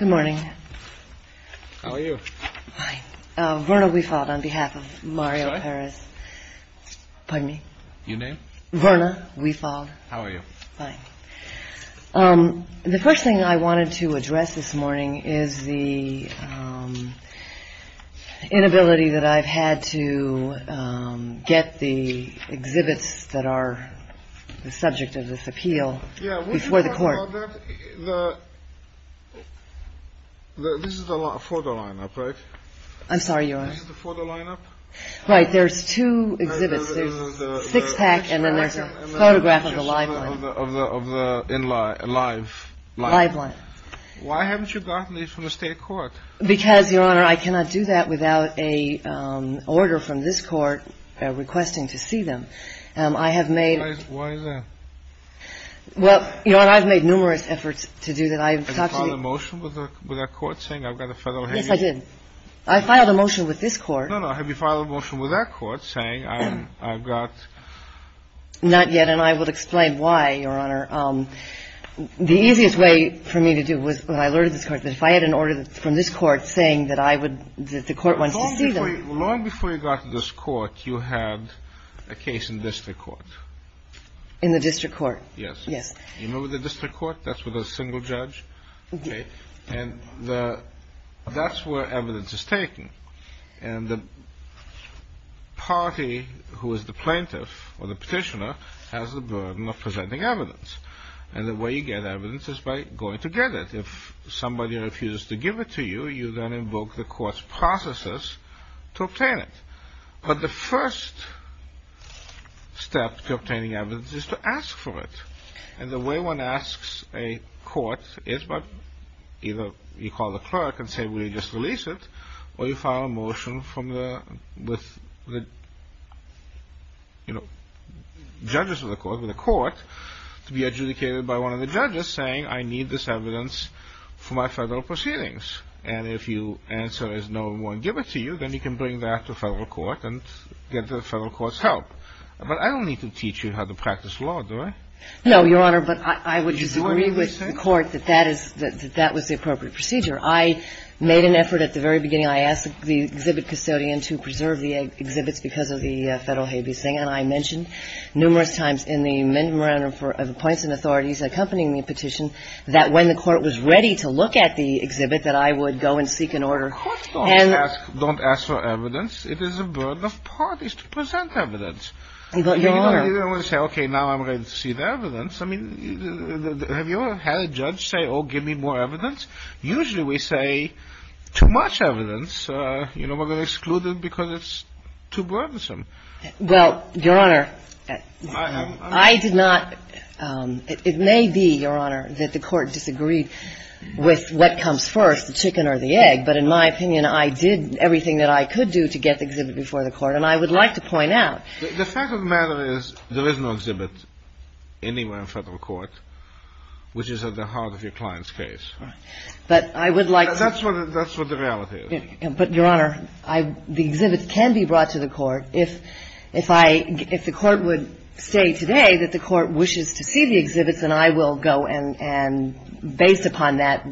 Good morning, how are you? Verna, we fought on behalf of Mario Paris. Pardon me. You name Verna. We fall. How are you? Fine. The first thing I wanted to address this morning is the inability that I've had to get the exhibits that are the subject of this appeal before the court. This is the photo lineup, right? I'm sorry, Your Honor. This is the photo lineup? Right. There's two exhibits. There's a six-pack and then there's a photograph of the live one. Live one. Why haven't you gotten these from the state court? Because, Your Honor, I cannot do that without an order from this court requesting to see them. I have made Why is that? Well, you know what, I've made numerous efforts to do that. I've talked to the Have you filed a motion with that court saying I've got a federal hearing? Yes, I did. I filed a motion with this court. No, no. Have you filed a motion with that court saying I've got Not yet, and I will explain why, Your Honor. The easiest way for me to do it was when I alerted this court that if I had an order from this court saying that I would that the court wants to see them Long before you got to this court, you had a case in district court. In the district court? Yes. Yes. You remember the district court? That's with a single judge. Okay. And that's where evidence is taken. And the party who is the plaintiff or the petitioner has the burden of presenting evidence. And the way you get evidence is by going to get it. If somebody refuses to give it to you, you then invoke the court's processes to obtain it. But the first step to obtaining evidence is to ask for it. And the way one asks a court is by either you call the clerk and say, Will you just release it? Or you file a motion with the judges of the court, with the court, to be adjudicated by one of the judges saying, I need this evidence for my federal proceedings. And if you answer there's no one to give it to you, then you can bring that to federal court and get the federal court's help. But I don't need to teach you how to practice law, do I? No, Your Honor. But I would agree with the court that that was the appropriate procedure. I made an effort at the very beginning. I asked the exhibit custodian to preserve the exhibits because of the federal habeas thing. And I mentioned numerous times in the memorandum of appoints and authorities accompanying the petition that when the court was ready to look at the exhibit that I would go and seek an order. Don't ask for evidence. It is a burden of parties to present evidence. Your Honor. You don't want to say, Okay, now I'm ready to see the evidence. I mean, have you ever had a judge say, Oh, give me more evidence? Usually we say too much evidence. You know, we're going to exclude it because it's too burdensome. Well, Your Honor, I did not. It may be, Your Honor, that the court disagreed with what comes first, the chicken or the egg. But in my opinion, I did everything that I could do to get the exhibit before the court. And I would like to point out. The fact of the matter is there is no exhibit anywhere in federal court which is at the heart of your client's case. Right. But I would like to. That's what the reality is. But, Your Honor, the exhibits can be brought to the court. If the court would say today that the court wishes to see the exhibits, then I will go and, based upon that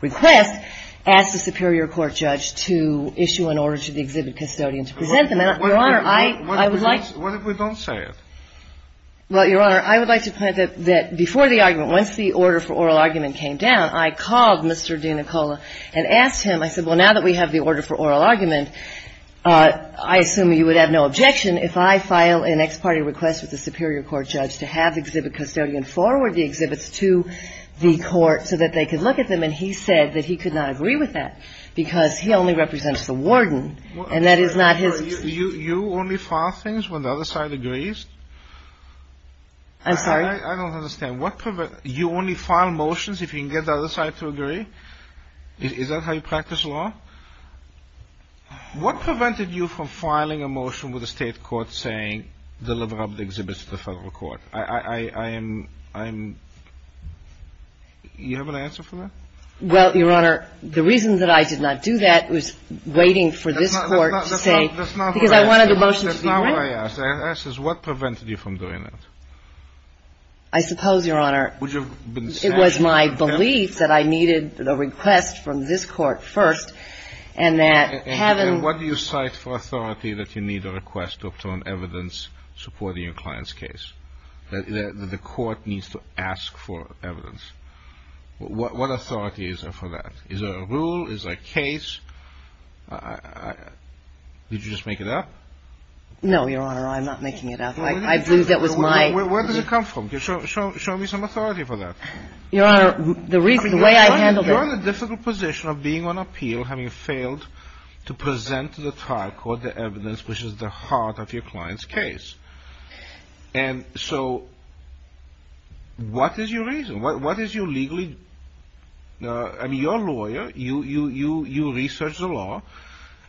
request, ask the superior court judge to issue an order to the exhibit custodian to present them. Your Honor, I would like to. What if we don't say it? Well, Your Honor, I would like to point out that before the argument, once the order for oral argument came down, I called Mr. DiNicola and asked him. I said, well, now that we have the order for oral argument, I assume you would have no objection if I file an ex parte request with the superior court judge to have exhibit custodian forward the exhibits to the court so that they could look at them. And he said that he could not agree with that because he only represents the warden. And that is not his. You only file things when the other side agrees? I'm sorry. I don't understand. You only file motions if you can get the other side to agree? Is that how you practice law? What prevented you from filing a motion with the state court saying deliver up the exhibits to the federal court? I am – you have an answer for that? Well, Your Honor, the reason that I did not do that was waiting for this court to say – That's not what I asked. Because I wanted the motion to be written. That's not what I asked. I asked, what prevented you from doing that? I suppose, Your Honor, it was my belief that I needed – the request from this court first and that having – And what do you cite for authority that you need a request to obtain evidence supporting your client's case? That the court needs to ask for evidence. What authority is there for that? Is there a rule? Is there a case? Did you just make it up? No, Your Honor. I'm not making it up. I believe that was my – Where did it come from? Show me some authority for that. Your Honor, the reason – the way I handled it – You're in a difficult position of being on appeal having failed to present to the trial court the evidence which is the heart of your client's case. And so what is your reason? What is your legally – I mean, you're a lawyer. You research the law.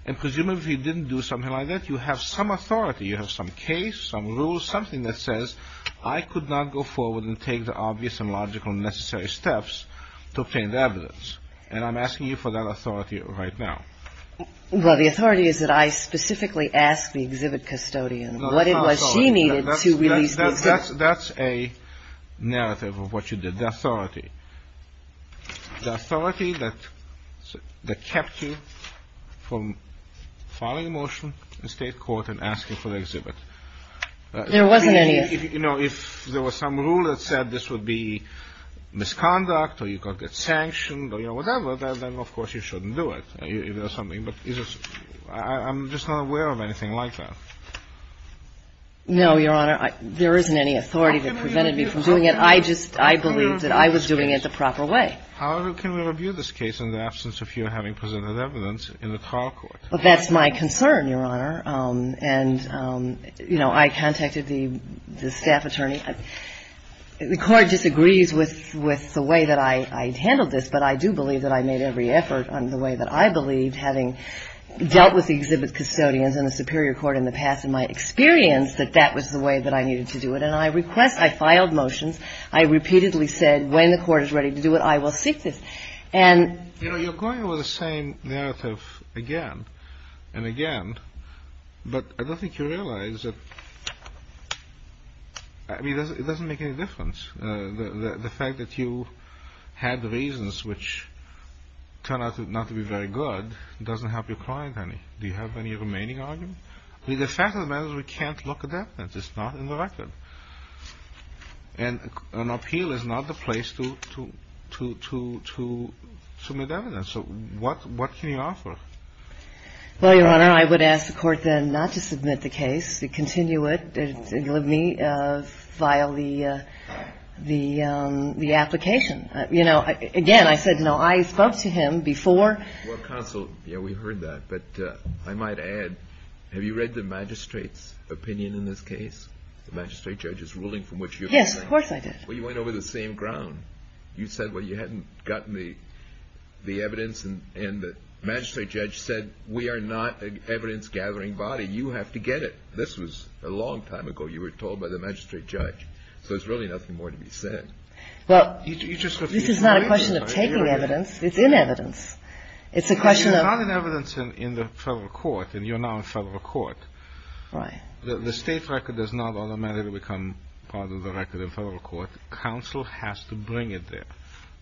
And presumably, if you didn't do something like that, you have some authority. You have some case, some rule, something that says I could not go forward and take the obvious and logical and necessary steps to obtain the evidence. And I'm asking you for that authority right now. Well, the authority is that I specifically asked the exhibit custodian what it was she needed to release the exhibit. That's a narrative of what you did. The authority. The authority that kept you from filing a motion in State court and asking for the exhibit. There wasn't any. You know, if there was some rule that said this would be misconduct or you could get sanctioned or, you know, whatever, then, of course, you shouldn't do it. I'm just not aware of anything like that. No, Your Honor. There isn't any authority that prevented me from doing it. I just, I believe that I was doing it the proper way. How can we review this case in the absence of you having presented evidence in the trial court? Well, that's my concern, Your Honor. And, you know, I contacted the staff attorney. The Court disagrees with the way that I handled this, but I do believe that I made every effort in the way that I believed, having dealt with the exhibit custodians in the Superior Court in the past, and my experience that that was the way that I needed to do it. And I request, I filed motions. I repeatedly said when the Court is ready to do it, I will seek this. And you know, you're going over the same narrative again and again, but I don't think you realize that, I mean, it doesn't make any difference. The fact that you had the reasons which turned out not to be very good doesn't help your client any. Do you have any remaining arguments? The fact of the matter is we can't look at evidence. It's not in the record. And an appeal is not the place to make evidence. So what can you offer? Well, Your Honor, I would ask the Court then not to submit the case, to continue it, and let me file the application. You know, again, I said, you know, I spoke to him before. Well, counsel, yeah, we heard that. But I might add, have you read the magistrate's opinion in this case? The magistrate judge's ruling from which you have been. Yes, of course I did. Well, you went over the same ground. You said, well, you hadn't gotten the evidence, and the magistrate judge said, we are not an evidence-gathering body. You have to get it. This was a long time ago, you were told by the magistrate judge. So there's really nothing more to be said. Well, this is not a question of taking evidence. It's in evidence. It's a question of – Because you're not an evidence in the federal court, and you're now in federal court. Right. The state record does not automatically become part of the record in federal court. Counsel has to bring it there.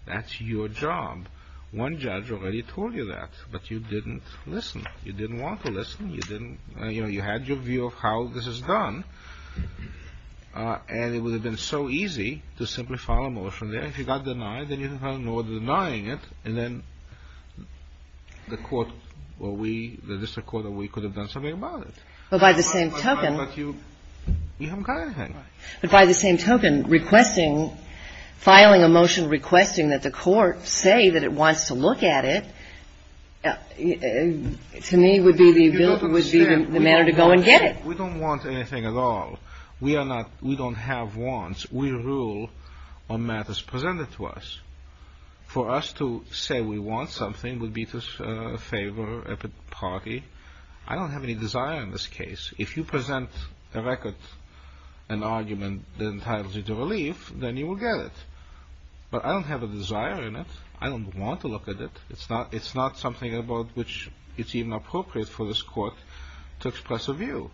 That's your job. One judge already told you that, but you didn't listen. You didn't want to listen. You didn't – you know, you had your view of how this is done. And it would have been so easy to simply file a motion there. If you got denied, then you didn't have to worry about denying it, and then the court or we, the district court, or we could have done something about it. Well, by the same token – But you haven't got anything. But by the same token, requesting, filing a motion requesting that the court say that it wants to look at it, to me, would be the ability, would be the manner to go and get it. We don't want anything at all. We are not – we don't have wants. We rule on matters presented to us. For us to say we want something would be to favor a party. I don't have any desire in this case. If you present a record, an argument that entitles you to relief, then you will get it. But I don't have a desire in it. I don't want to look at it. It's not something about which it's even appropriate for this court to express a view.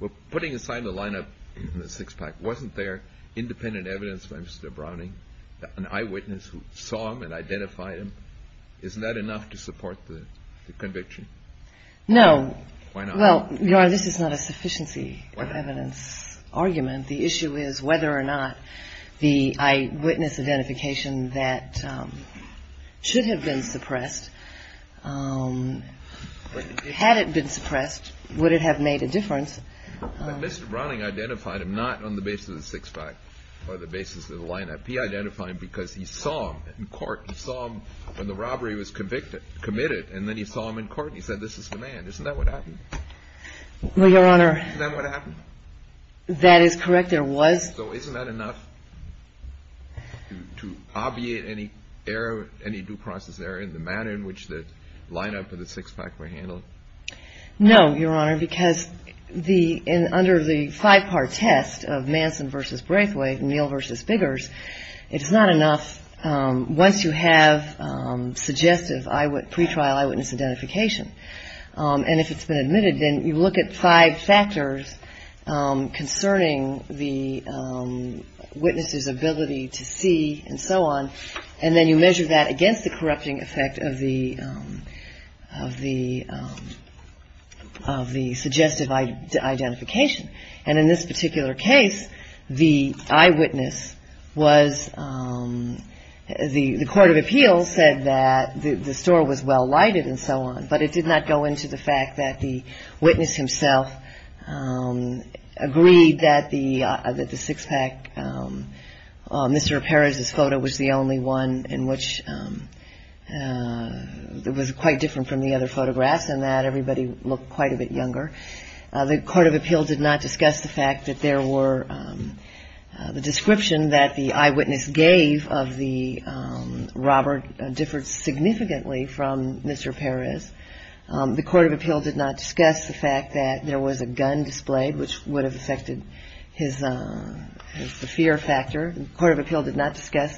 Well, putting aside the lineup in the six-pack, wasn't there independent evidence by Mr. Browning, an eyewitness who saw him and identified him? Isn't that enough to support the conviction? No. Why not? Well, Your Honor, this is not a sufficiency of evidence argument. The issue is whether or not the eyewitness identification that should have been suppressed, had it been suppressed, would it have made a difference? But Mr. Browning identified him not on the basis of the six-pack or the basis of the lineup. He identified him because he saw him in court. He saw him when the robbery was convicted – committed. And then he saw him in court and he said, this is the man. Isn't that what happened? Well, Your Honor – Isn't that what happened? That is correct. There was – So isn't that enough to obviate any error, any due process error in the manner in which the lineup and the six-pack were handled? No, Your Honor, because under the five-part test of Manson v. Braithwaite, Neal v. Biggers, it's not enough once you have suggestive pretrial eyewitness identification. And if it's been admitted, then you look at five factors concerning the witness's ability to see and so on, and then you measure that against the corrupting effect of the – of the – of the suggestive identification. And in this particular case, the eyewitness was – the court of appeals said that the store was well-lighted and so on, but it did not go into the fact that the witness himself agreed that the – that the six-pack – Mr. Perez's photo was the only one in which – it was quite different from the other photographs in that everybody looked quite a bit younger. The court of appeals did not discuss the fact that there were – the description that the eyewitness gave of the robber differed significantly from Mr. Perez. The court of appeals did not discuss the fact that there was a gun displayed, which would have affected his – the fear factor. The court of appeals did not discuss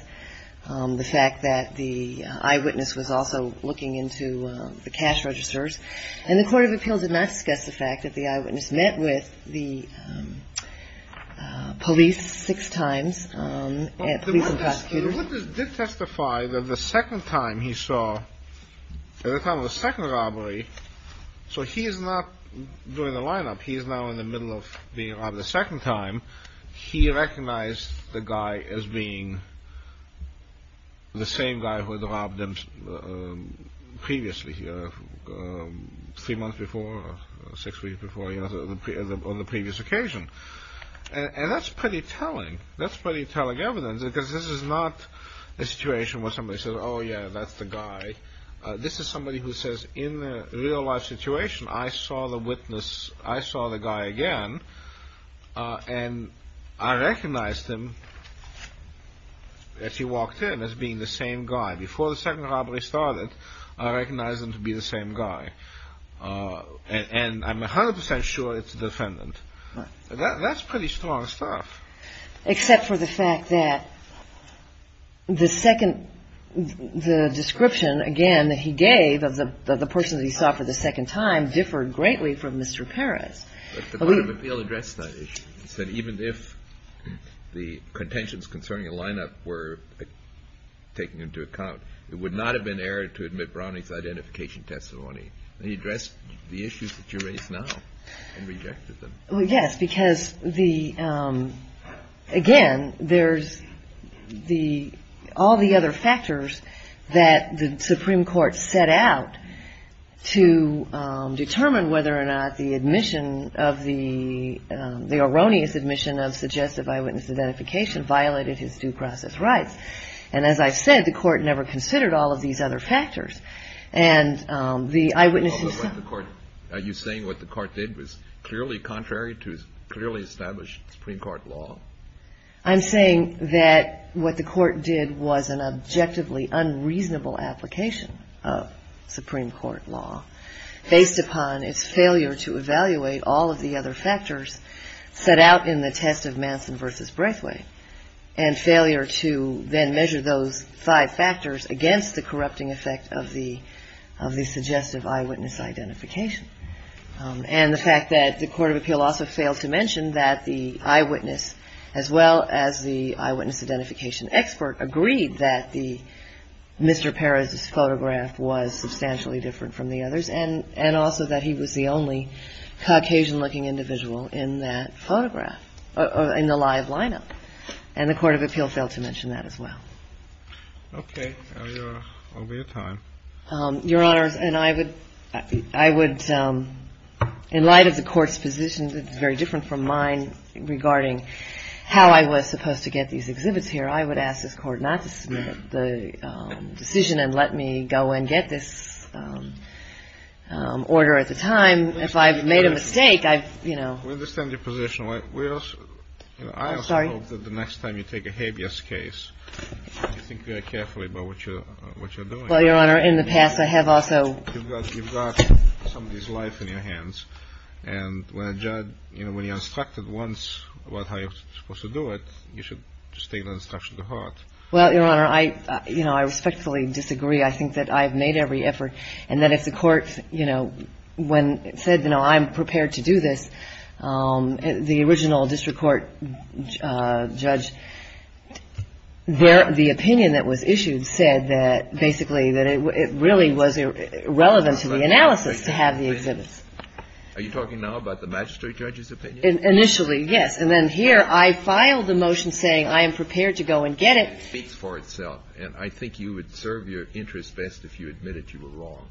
the fact that the eyewitness was also looking into the cash registers. And the court of appeals did not discuss the fact that the eyewitness met with the police six times, police and prosecutors. The eyewitness did testify that the second time he saw – at the time of the second robbery – so he is not doing the line-up. He is now in the middle of being robbed a second time. He recognized the guy as being the same guy who had robbed him previously, three months before, six weeks before, on the previous occasion. And that's pretty telling. That's pretty telling evidence, because this is not a situation where somebody says, oh, yeah, that's the guy. This is somebody who says, in a real-life situation, I saw the witness – I saw the guy again, and I recognized him as he walked in, as being the same guy. Before the second robbery started, I recognized him to be the same guy. And I'm 100 percent sure it's the defendant. That's pretty strong stuff. Except for the fact that the second – the description, again, that he gave of the person that he saw for the second time differed greatly from Mr. Perez. But the court of appeals addressed that issue. It said even if the contentions concerning a line-up were taken into account, it would not have been error to admit Browning's identification testimony. And he addressed the issues that you raise now and rejected them. Well, yes, because the – again, there's the – all the other factors that the Supreme Court set out to determine whether or not the admission of the – the erroneous admission of suggestive eyewitness identification violated his due process rights. And as I've said, the court never considered all of these other factors. And the eyewitnesses – Are you saying what the court did was clearly contrary to clearly established Supreme Court law? I'm saying that what the court did was an objectively unreasonable application of Supreme Court law, based upon its failure to evaluate all of the other factors set out in the test of Manson v. Braithwaite and failure to then measure those five factors against the corrupting effect of the – of the suggestive eyewitness identification. And the fact that the court of appeal also failed to mention that the eyewitness, as well as the eyewitness identification expert, agreed that the – Mr. Perez's photograph was substantially different from the others and also that he was the only Caucasian-looking individual in that photograph – in the live lineup. And the court of appeal failed to mention that as well. Okay. Now you are over your time. Your Honors, and I would – I would – in light of the court's position, which is very different from mine regarding how I was supposed to get these exhibits here, I would ask this Court not to submit the decision and let me go and get this order at the time. If I've made a mistake, I've, you know – We understand your position. I also hope that the next time you take a habeas case, you think very carefully about what you're doing. Well, Your Honor, in the past I have also – You've got somebody's life in your hands. And when a judge – you know, when you're instructed once about how you're supposed to do it, you should just take that instruction to heart. Well, Your Honor, I – you know, I respectfully disagree. I think that I have made every effort and that if the court, you know, when it said, you know, I'm prepared to do this, the original district court judge, the opinion that was issued said that basically that it really was irrelevant to the analysis to have the exhibits. Are you talking now about the magistrate judge's opinion? Initially, yes. And then here I filed the motion saying I am prepared to go and get it. It speaks for itself. And I think you would serve your interests best if you admitted you were wrong,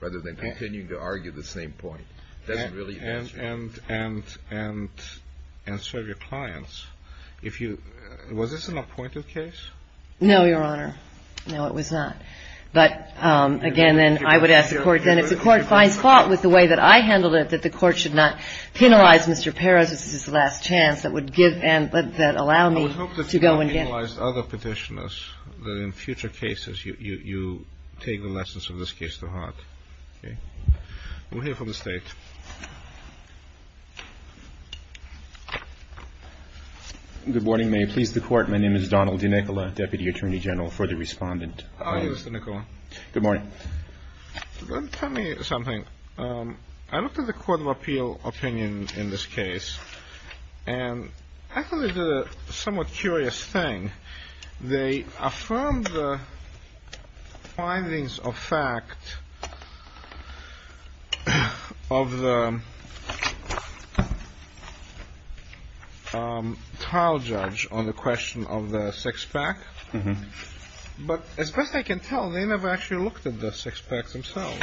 rather than continuing to argue the same point. It doesn't really answer – And serve your clients. If you – was this an appointed case? No, Your Honor. No, it was not. But, again, then I would ask the court – I would hope that you penalized other Petitioners that in future cases you take the lessons of this case to heart. Okay? We'll hear from the State. Good morning. May it please the Court. My name is Donald DiNicola, Deputy Attorney General, further respondent. How do you do, Mr. DiNicola? Good morning. Tell me something. I looked at the Court of Appeal opinion in this case. And I thought they did a somewhat curious thing. They affirmed the findings of fact of the trial judge on the question of the six-pack. But as best I can tell, they never actually looked at the six-pack themselves.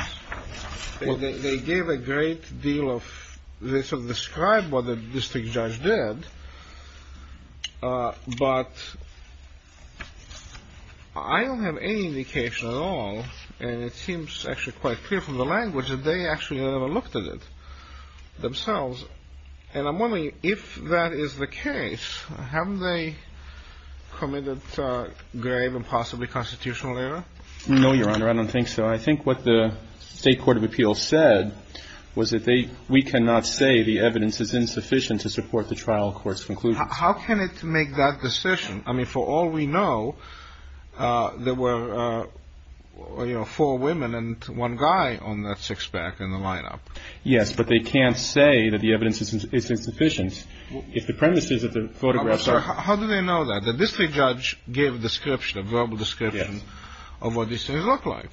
They gave a great deal of – they sort of described what the district judge did. But I don't have any indication at all, and it seems actually quite clear from the language, that they actually never looked at it themselves. And I'm wondering, if that is the case, have they committed grave and possibly constitutional error? No, Your Honor, I don't think so. I think what the State Court of Appeal said was that they – we cannot say the evidence is insufficient to support the trial court's conclusions. How can it make that decision? I mean, for all we know, there were four women and one guy on that six-pack in the lineup. Yes, but they can't say that the evidence is insufficient if the premise is that the photographs are – How do they know that? The district judge gave a description, a verbal description of what these things look like.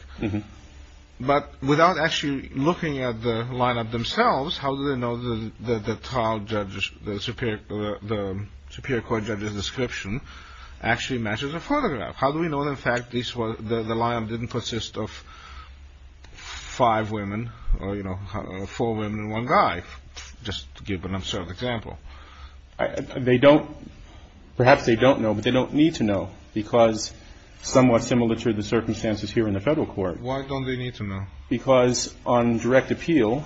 But without actually looking at the lineup themselves, how do they know that the trial judge's – the Superior Court judge's description actually matches the photograph? How do we know, in fact, this was – the lineup didn't consist of five women or, you know, four women and one guy, just to give an absurd example? They don't – perhaps they don't know, but they don't need to know, because somewhat similar to the circumstances here in the Federal Court – Why don't they need to know? Because on direct appeal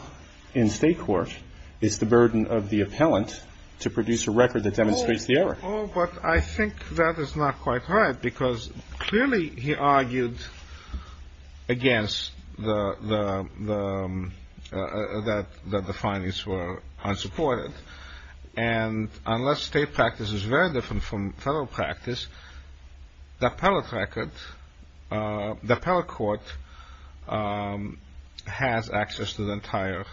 in State court, it's the burden of the appellant to produce a record that demonstrates the error. Oh, but I think that is not quite right, because clearly he argued against the – that the findings were unsupported. And unless State practice is very different from Federal practice, the appellate record – the appellate court has access to the entire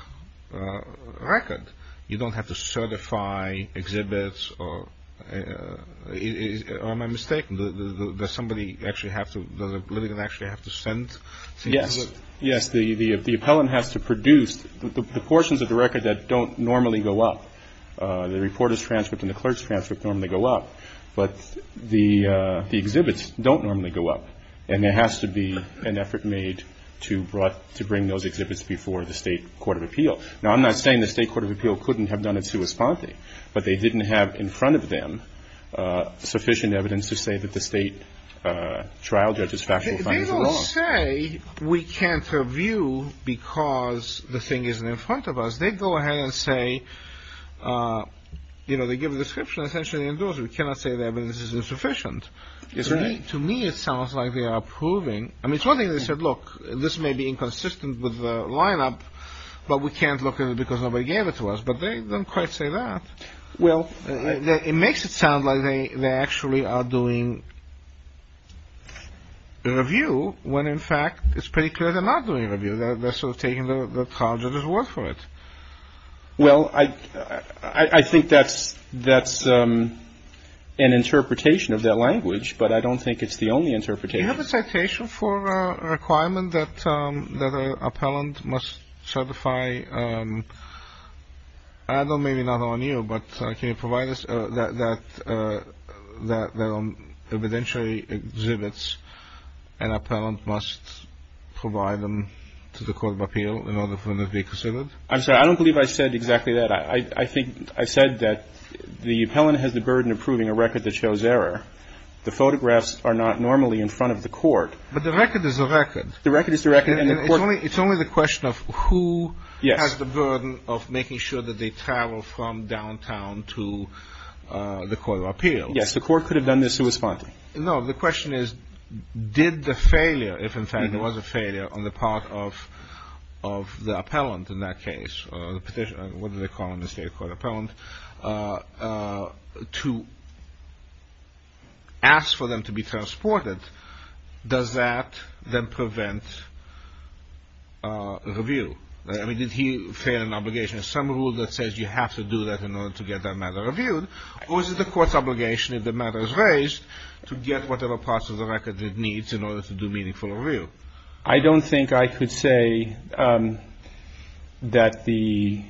record. You don't have to certify exhibits or – or am I mistaken? Does somebody actually have to – does a litigant actually have to send – Yes. Yes, the appellant has to produce the portions of the record that don't normally go up. The reporter's transcript and the clerk's transcript normally go up, but the exhibits don't normally go up. And there has to be an effort made to bring those exhibits before the State Court of Appeal. Now, I'm not saying the State Court of Appeal couldn't have done it sui sponte, but they didn't have in front of them sufficient evidence to say that the State trial judge's factual findings were wrong. They don't say we can't review because the thing isn't in front of us. They go ahead and say – you know, they give a description, essentially, and we cannot say the evidence is insufficient. That's right. To me, it sounds like they are proving – I mean, it's one thing they said, Look, this may be inconsistent with the lineup, but we can't look at it because nobody gave it to us. But they don't quite say that. Well – It makes it sound like they actually are doing a review when, in fact, it's pretty clear they're not doing a review. They're sort of taking the trial judge's word for it. Well, I think that's an interpretation of their language, but I don't think it's the only interpretation. Do you have a citation for a requirement that an appellant must certify – I don't know, maybe not on you, but can you provide us that on evidentiary exhibits an appellant must provide them to the court of appeal in order for them to be considered? I'm sorry. I don't believe I said exactly that. I think I said that the appellant has the burden of proving a record that shows error. The photographs are not normally in front of the court. But the record is the record. The record is the record. And it's only the question of who has the burden of making sure that they travel from downtown to the court of appeal. Yes, the court could have done this in response. No, the question is, did the failure – if, in fact, it was a failure on the part of the appellant in that case, to ask for them to be transported, does that then prevent review? I mean, did he fail an obligation? Is there some rule that says you have to do that in order to get that matter reviewed? Or is it the court's obligation, if the matter is raised, to get whatever parts of the record it needs in order to do meaningful review? I don't think I could say that the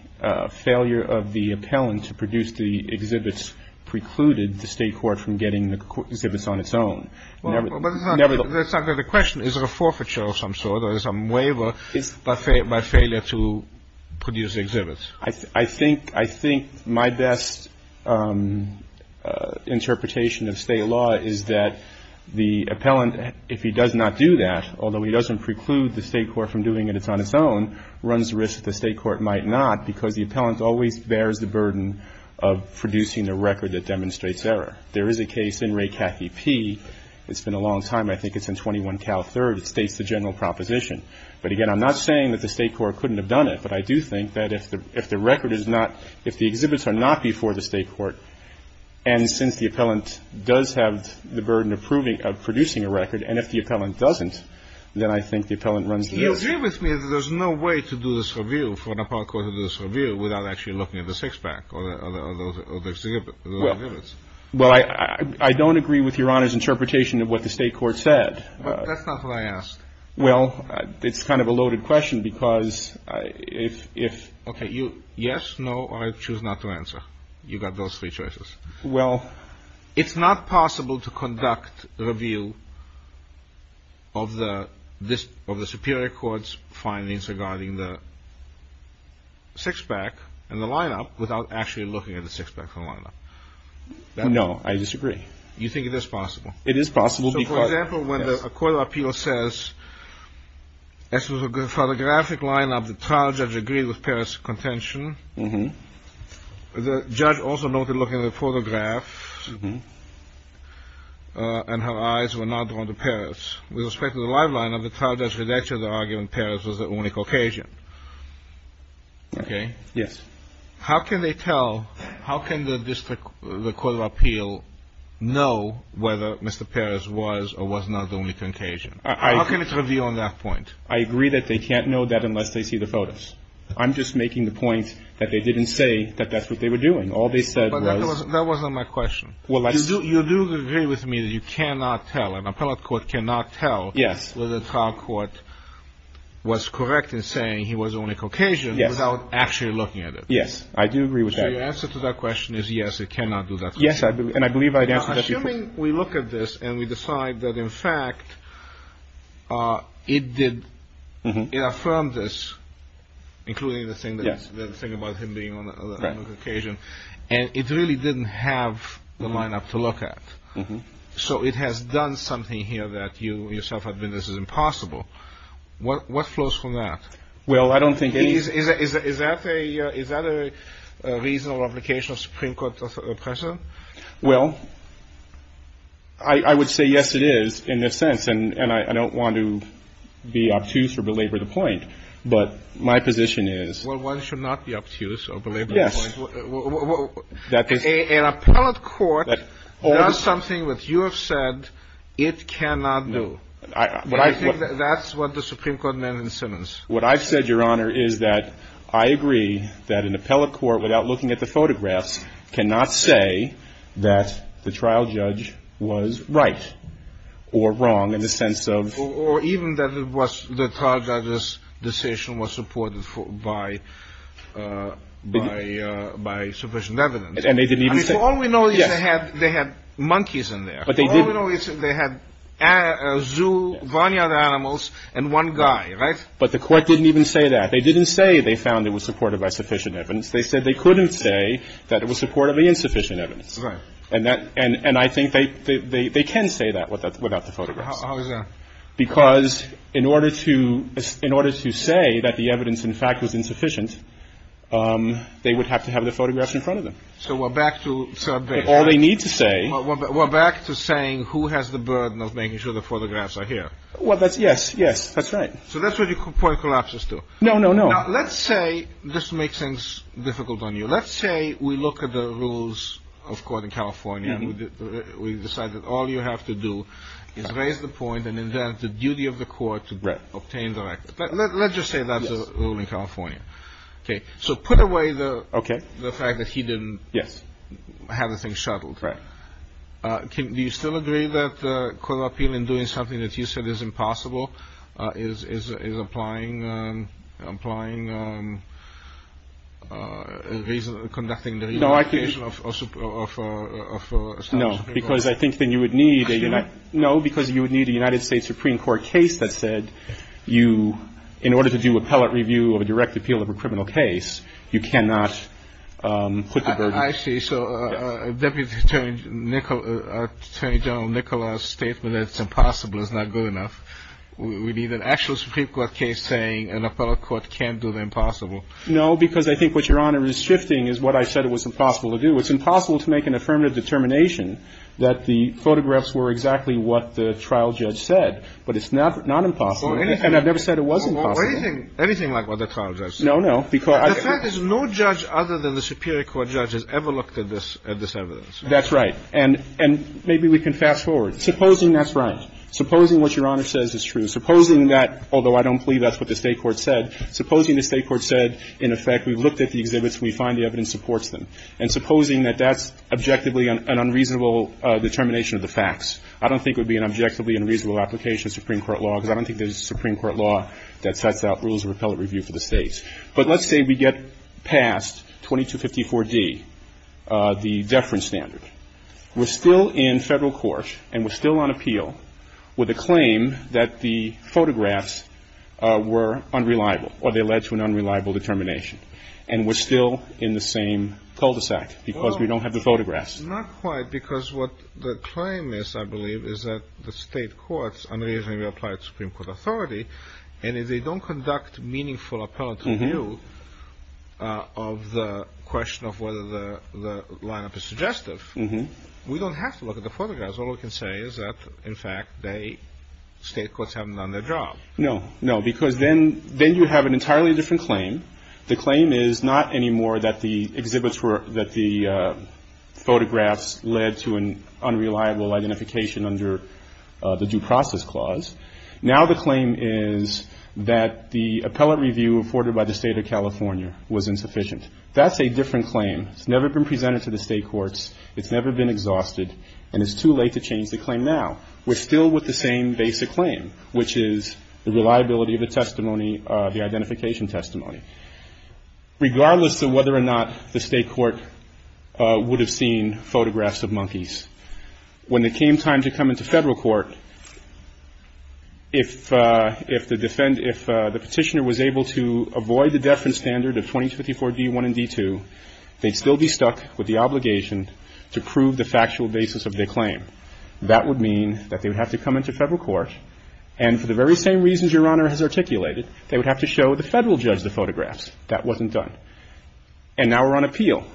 failure of the appellant to produce the exhibits precluded the State court from getting the exhibits on its own. Well, but it's not – Never the – It's not the question. Is it a forfeiture of some sort or some waiver by failure to produce exhibits? I think – I think my best interpretation of State law is that the appellant, if he does not do that, although he doesn't preclude the State court from doing it on its own, runs the risk that the State court might not, because the appellant always bears the burden of producing the record that demonstrates error. There is a case in Ray Cathy P. It's been a long time. I think it's in 21 Cal 3rd. It states the general proposition. But, again, I'm not saying that the State court couldn't have done it. But I do think that if the record is not – if the exhibits are not before the State court, and since the appellant does have the burden of producing a record, and if the appellant doesn't, then I think the appellant runs the risk. Do you agree with me that there's no way to do this review, for an appellant court to do this review, without actually looking at the six-pack or the exhibits? Well, I don't agree with Your Honor's interpretation of what the State court said. That's not what I asked. Well, it's kind of a loaded question, because if – Okay. Yes, no, or I choose not to answer. You've got those three choices. Well – It's not possible to conduct a review of the Superior Court's findings regarding the six-pack and the lineup without actually looking at the six-pack from the lineup. No, I disagree. You think it is possible? It is possible because – As far as the graphic lineup, the trial judge agreed with Parris' contention. Mm-hmm. The judge also noted looking at the photograph, and her eyes were not drawn to Parris. With respect to the live lineup, the trial judge rejected the argument Parris was the only Caucasian. Okay? Yes. How can they tell – how can the District – the Court of Appeal know whether Mr. Parris was or was not the only Caucasian? How can it review on that point? I agree that they can't know that unless they see the photos. I'm just making the point that they didn't say that that's what they were doing. All they said was – But that wasn't my question. Well, let's – You do agree with me that you cannot tell – an appellate court cannot tell – Yes. – whether the trial court was correct in saying he was only Caucasian – Yes. – without actually looking at it. Yes, I do agree with that. So your answer to that question is yes, it cannot do that. Yes, and I believe I had answered that before. and we decide that, in fact, it did – it affirmed this, including the thing that – Yes. – the thing about him being only Caucasian, and it really didn't have the lineup to look at. Mm-hmm. So it has done something here that you yourself admit this is impossible. What flows from that? Well, I don't think any – Is that a reasonable application of Supreme Court pressure? Well, I would say yes, it is, in this sense, and I don't want to be obtuse or belabor the point. But my position is – Well, one should not be obtuse or belabor the point. Yes. An appellate court does something that you have said it cannot do. What I've said, Your Honor, is that I agree that an appellate court, without looking at the photographs, cannot say that the trial judge was right or wrong in the sense of – Or even that it was – the trial judge's decision was supported by sufficient evidence. And they didn't even say – I mean, all we know is they had monkeys in there. But they didn't. All we know is they had a zoo, varnished animals, and one guy, right? But the court didn't even say that. They didn't say they found it was supported by sufficient evidence. They said they couldn't say that it was supported by insufficient evidence. Right. And that – and I think they can say that without the photographs. How is that? Because in order to say that the evidence, in fact, was insufficient, they would have to have the photographs in front of them. So we're back to – But all they need to say – We're back to saying who has the burden of making sure the photographs are here. Well, that's – yes, yes, that's right. So that's what your point collapses to. No, no, no. Now, let's say – this makes sense – difficult on you. Let's say we look at the rules of court in California. We decide that all you have to do is raise the point and invent the duty of the court to obtain the record. Let's just say that's the rule in California. Okay. So put away the fact that he didn't have the thing shuttled. Right. Do you still agree that court of appeal in doing something that you said is impossible is applying – conducting the – No, because I think then you would need – No, because you would need a United States Supreme Court case that said you – in order to do appellate review of a direct appeal of a criminal case, you cannot put the burden – I see. So Deputy Attorney General Nicholas' statement that it's impossible is not good enough. We need an actual Supreme Court case saying an appellate court can't do the impossible. No, because I think what Your Honor is shifting is what I said it was impossible to do. It's impossible to make an affirmative determination that the photographs were exactly what the trial judge said. But it's not impossible. And I've never said it was impossible. Anything like what the trial judge said. No, no. The fact is no judge other than the superior court judge has ever looked at this evidence. That's right. And maybe we can fast forward. Supposing that's right. Supposing what Your Honor says is true. Supposing that, although I don't believe that's what the State court said, supposing the State court said, in effect, we've looked at the exhibits and we find the evidence supports them. And supposing that that's objectively an unreasonable determination of the facts. I don't think it would be an objectively unreasonable application of Supreme Court law, because I don't think there's a Supreme Court law that sets out rules of appellate review for the States. But let's say we get past 2254D, the deference standard. We're still in federal court and we're still on appeal with a claim that the photographs were unreliable or they led to an unreliable determination. And we're still in the same cul-de-sac because we don't have the photographs. Not quite, because what the claim is, I believe, is that the State courts unreasonably apply to Supreme Court authority. And if they don't conduct meaningful appellate review of the question of whether the lineup is suggestive, we don't have to look at the photographs. All we can say is that, in fact, the State courts haven't done their job. No. No, because then you have an entirely different claim. The claim is not anymore that the exhibits were – that the photographs led to an unreliable determination. Now the claim is that the appellate review afforded by the State of California was insufficient. That's a different claim. It's never been presented to the State courts. It's never been exhausted. And it's too late to change the claim now. We're still with the same basic claim, which is the reliability of the testimony, the identification testimony. Regardless of whether or not the State court would have seen photographs of monkeys, when it came time to come into Federal court, if the petitioner was able to avoid the deference standard of 2254d1 and d2, they'd still be stuck with the obligation to prove the factual basis of their claim. That would mean that they would have to come into Federal court, and for the very same reasons Your Honor has articulated, they would have to show the Federal judge the photographs. That wasn't done. And now we're on appeal.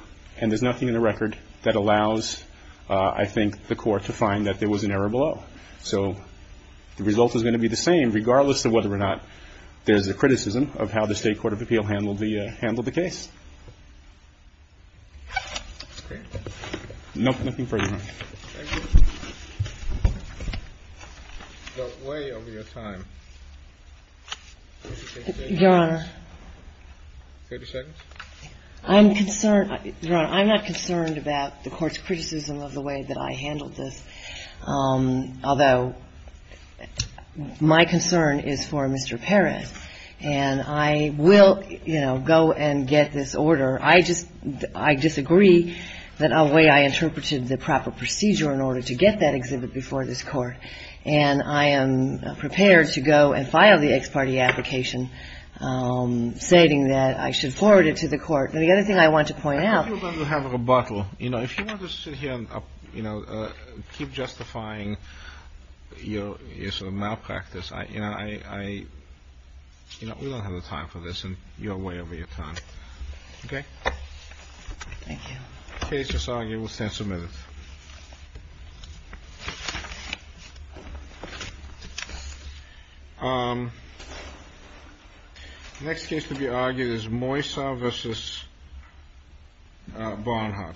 And there's nothing in the record that allows, I think, the court to find that there was an error below. So the result is going to be the same, regardless of whether or not there's a criticism of how the State court of appeal handled the case. Nothing further, Your Honor. Thank you. So way over your time. Your Honor. 30 seconds. I'm concerned. Your Honor, I'm not concerned about the Court's criticism of the way that I handled this, although my concern is for Mr. Perez. And I will, you know, go and get this order. I just, I disagree that the way I interpreted the proper procedure in order to get that exhibit before this Court. And I am prepared to go and file the ex parte application, stating that I should forward it to the Court. And the other thing I want to point out. I think you're going to have a rebuttal. You know, if you want to sit here and, you know, keep justifying your sort of malpractice, I, you know, I, you know, we don't have the time for this, and you're way over your time. OK. Thank you. The case is argued. We'll stand some minutes. Next case to be argued is Moisa versus Bonhart. Thank you, Your Honor. Thank you.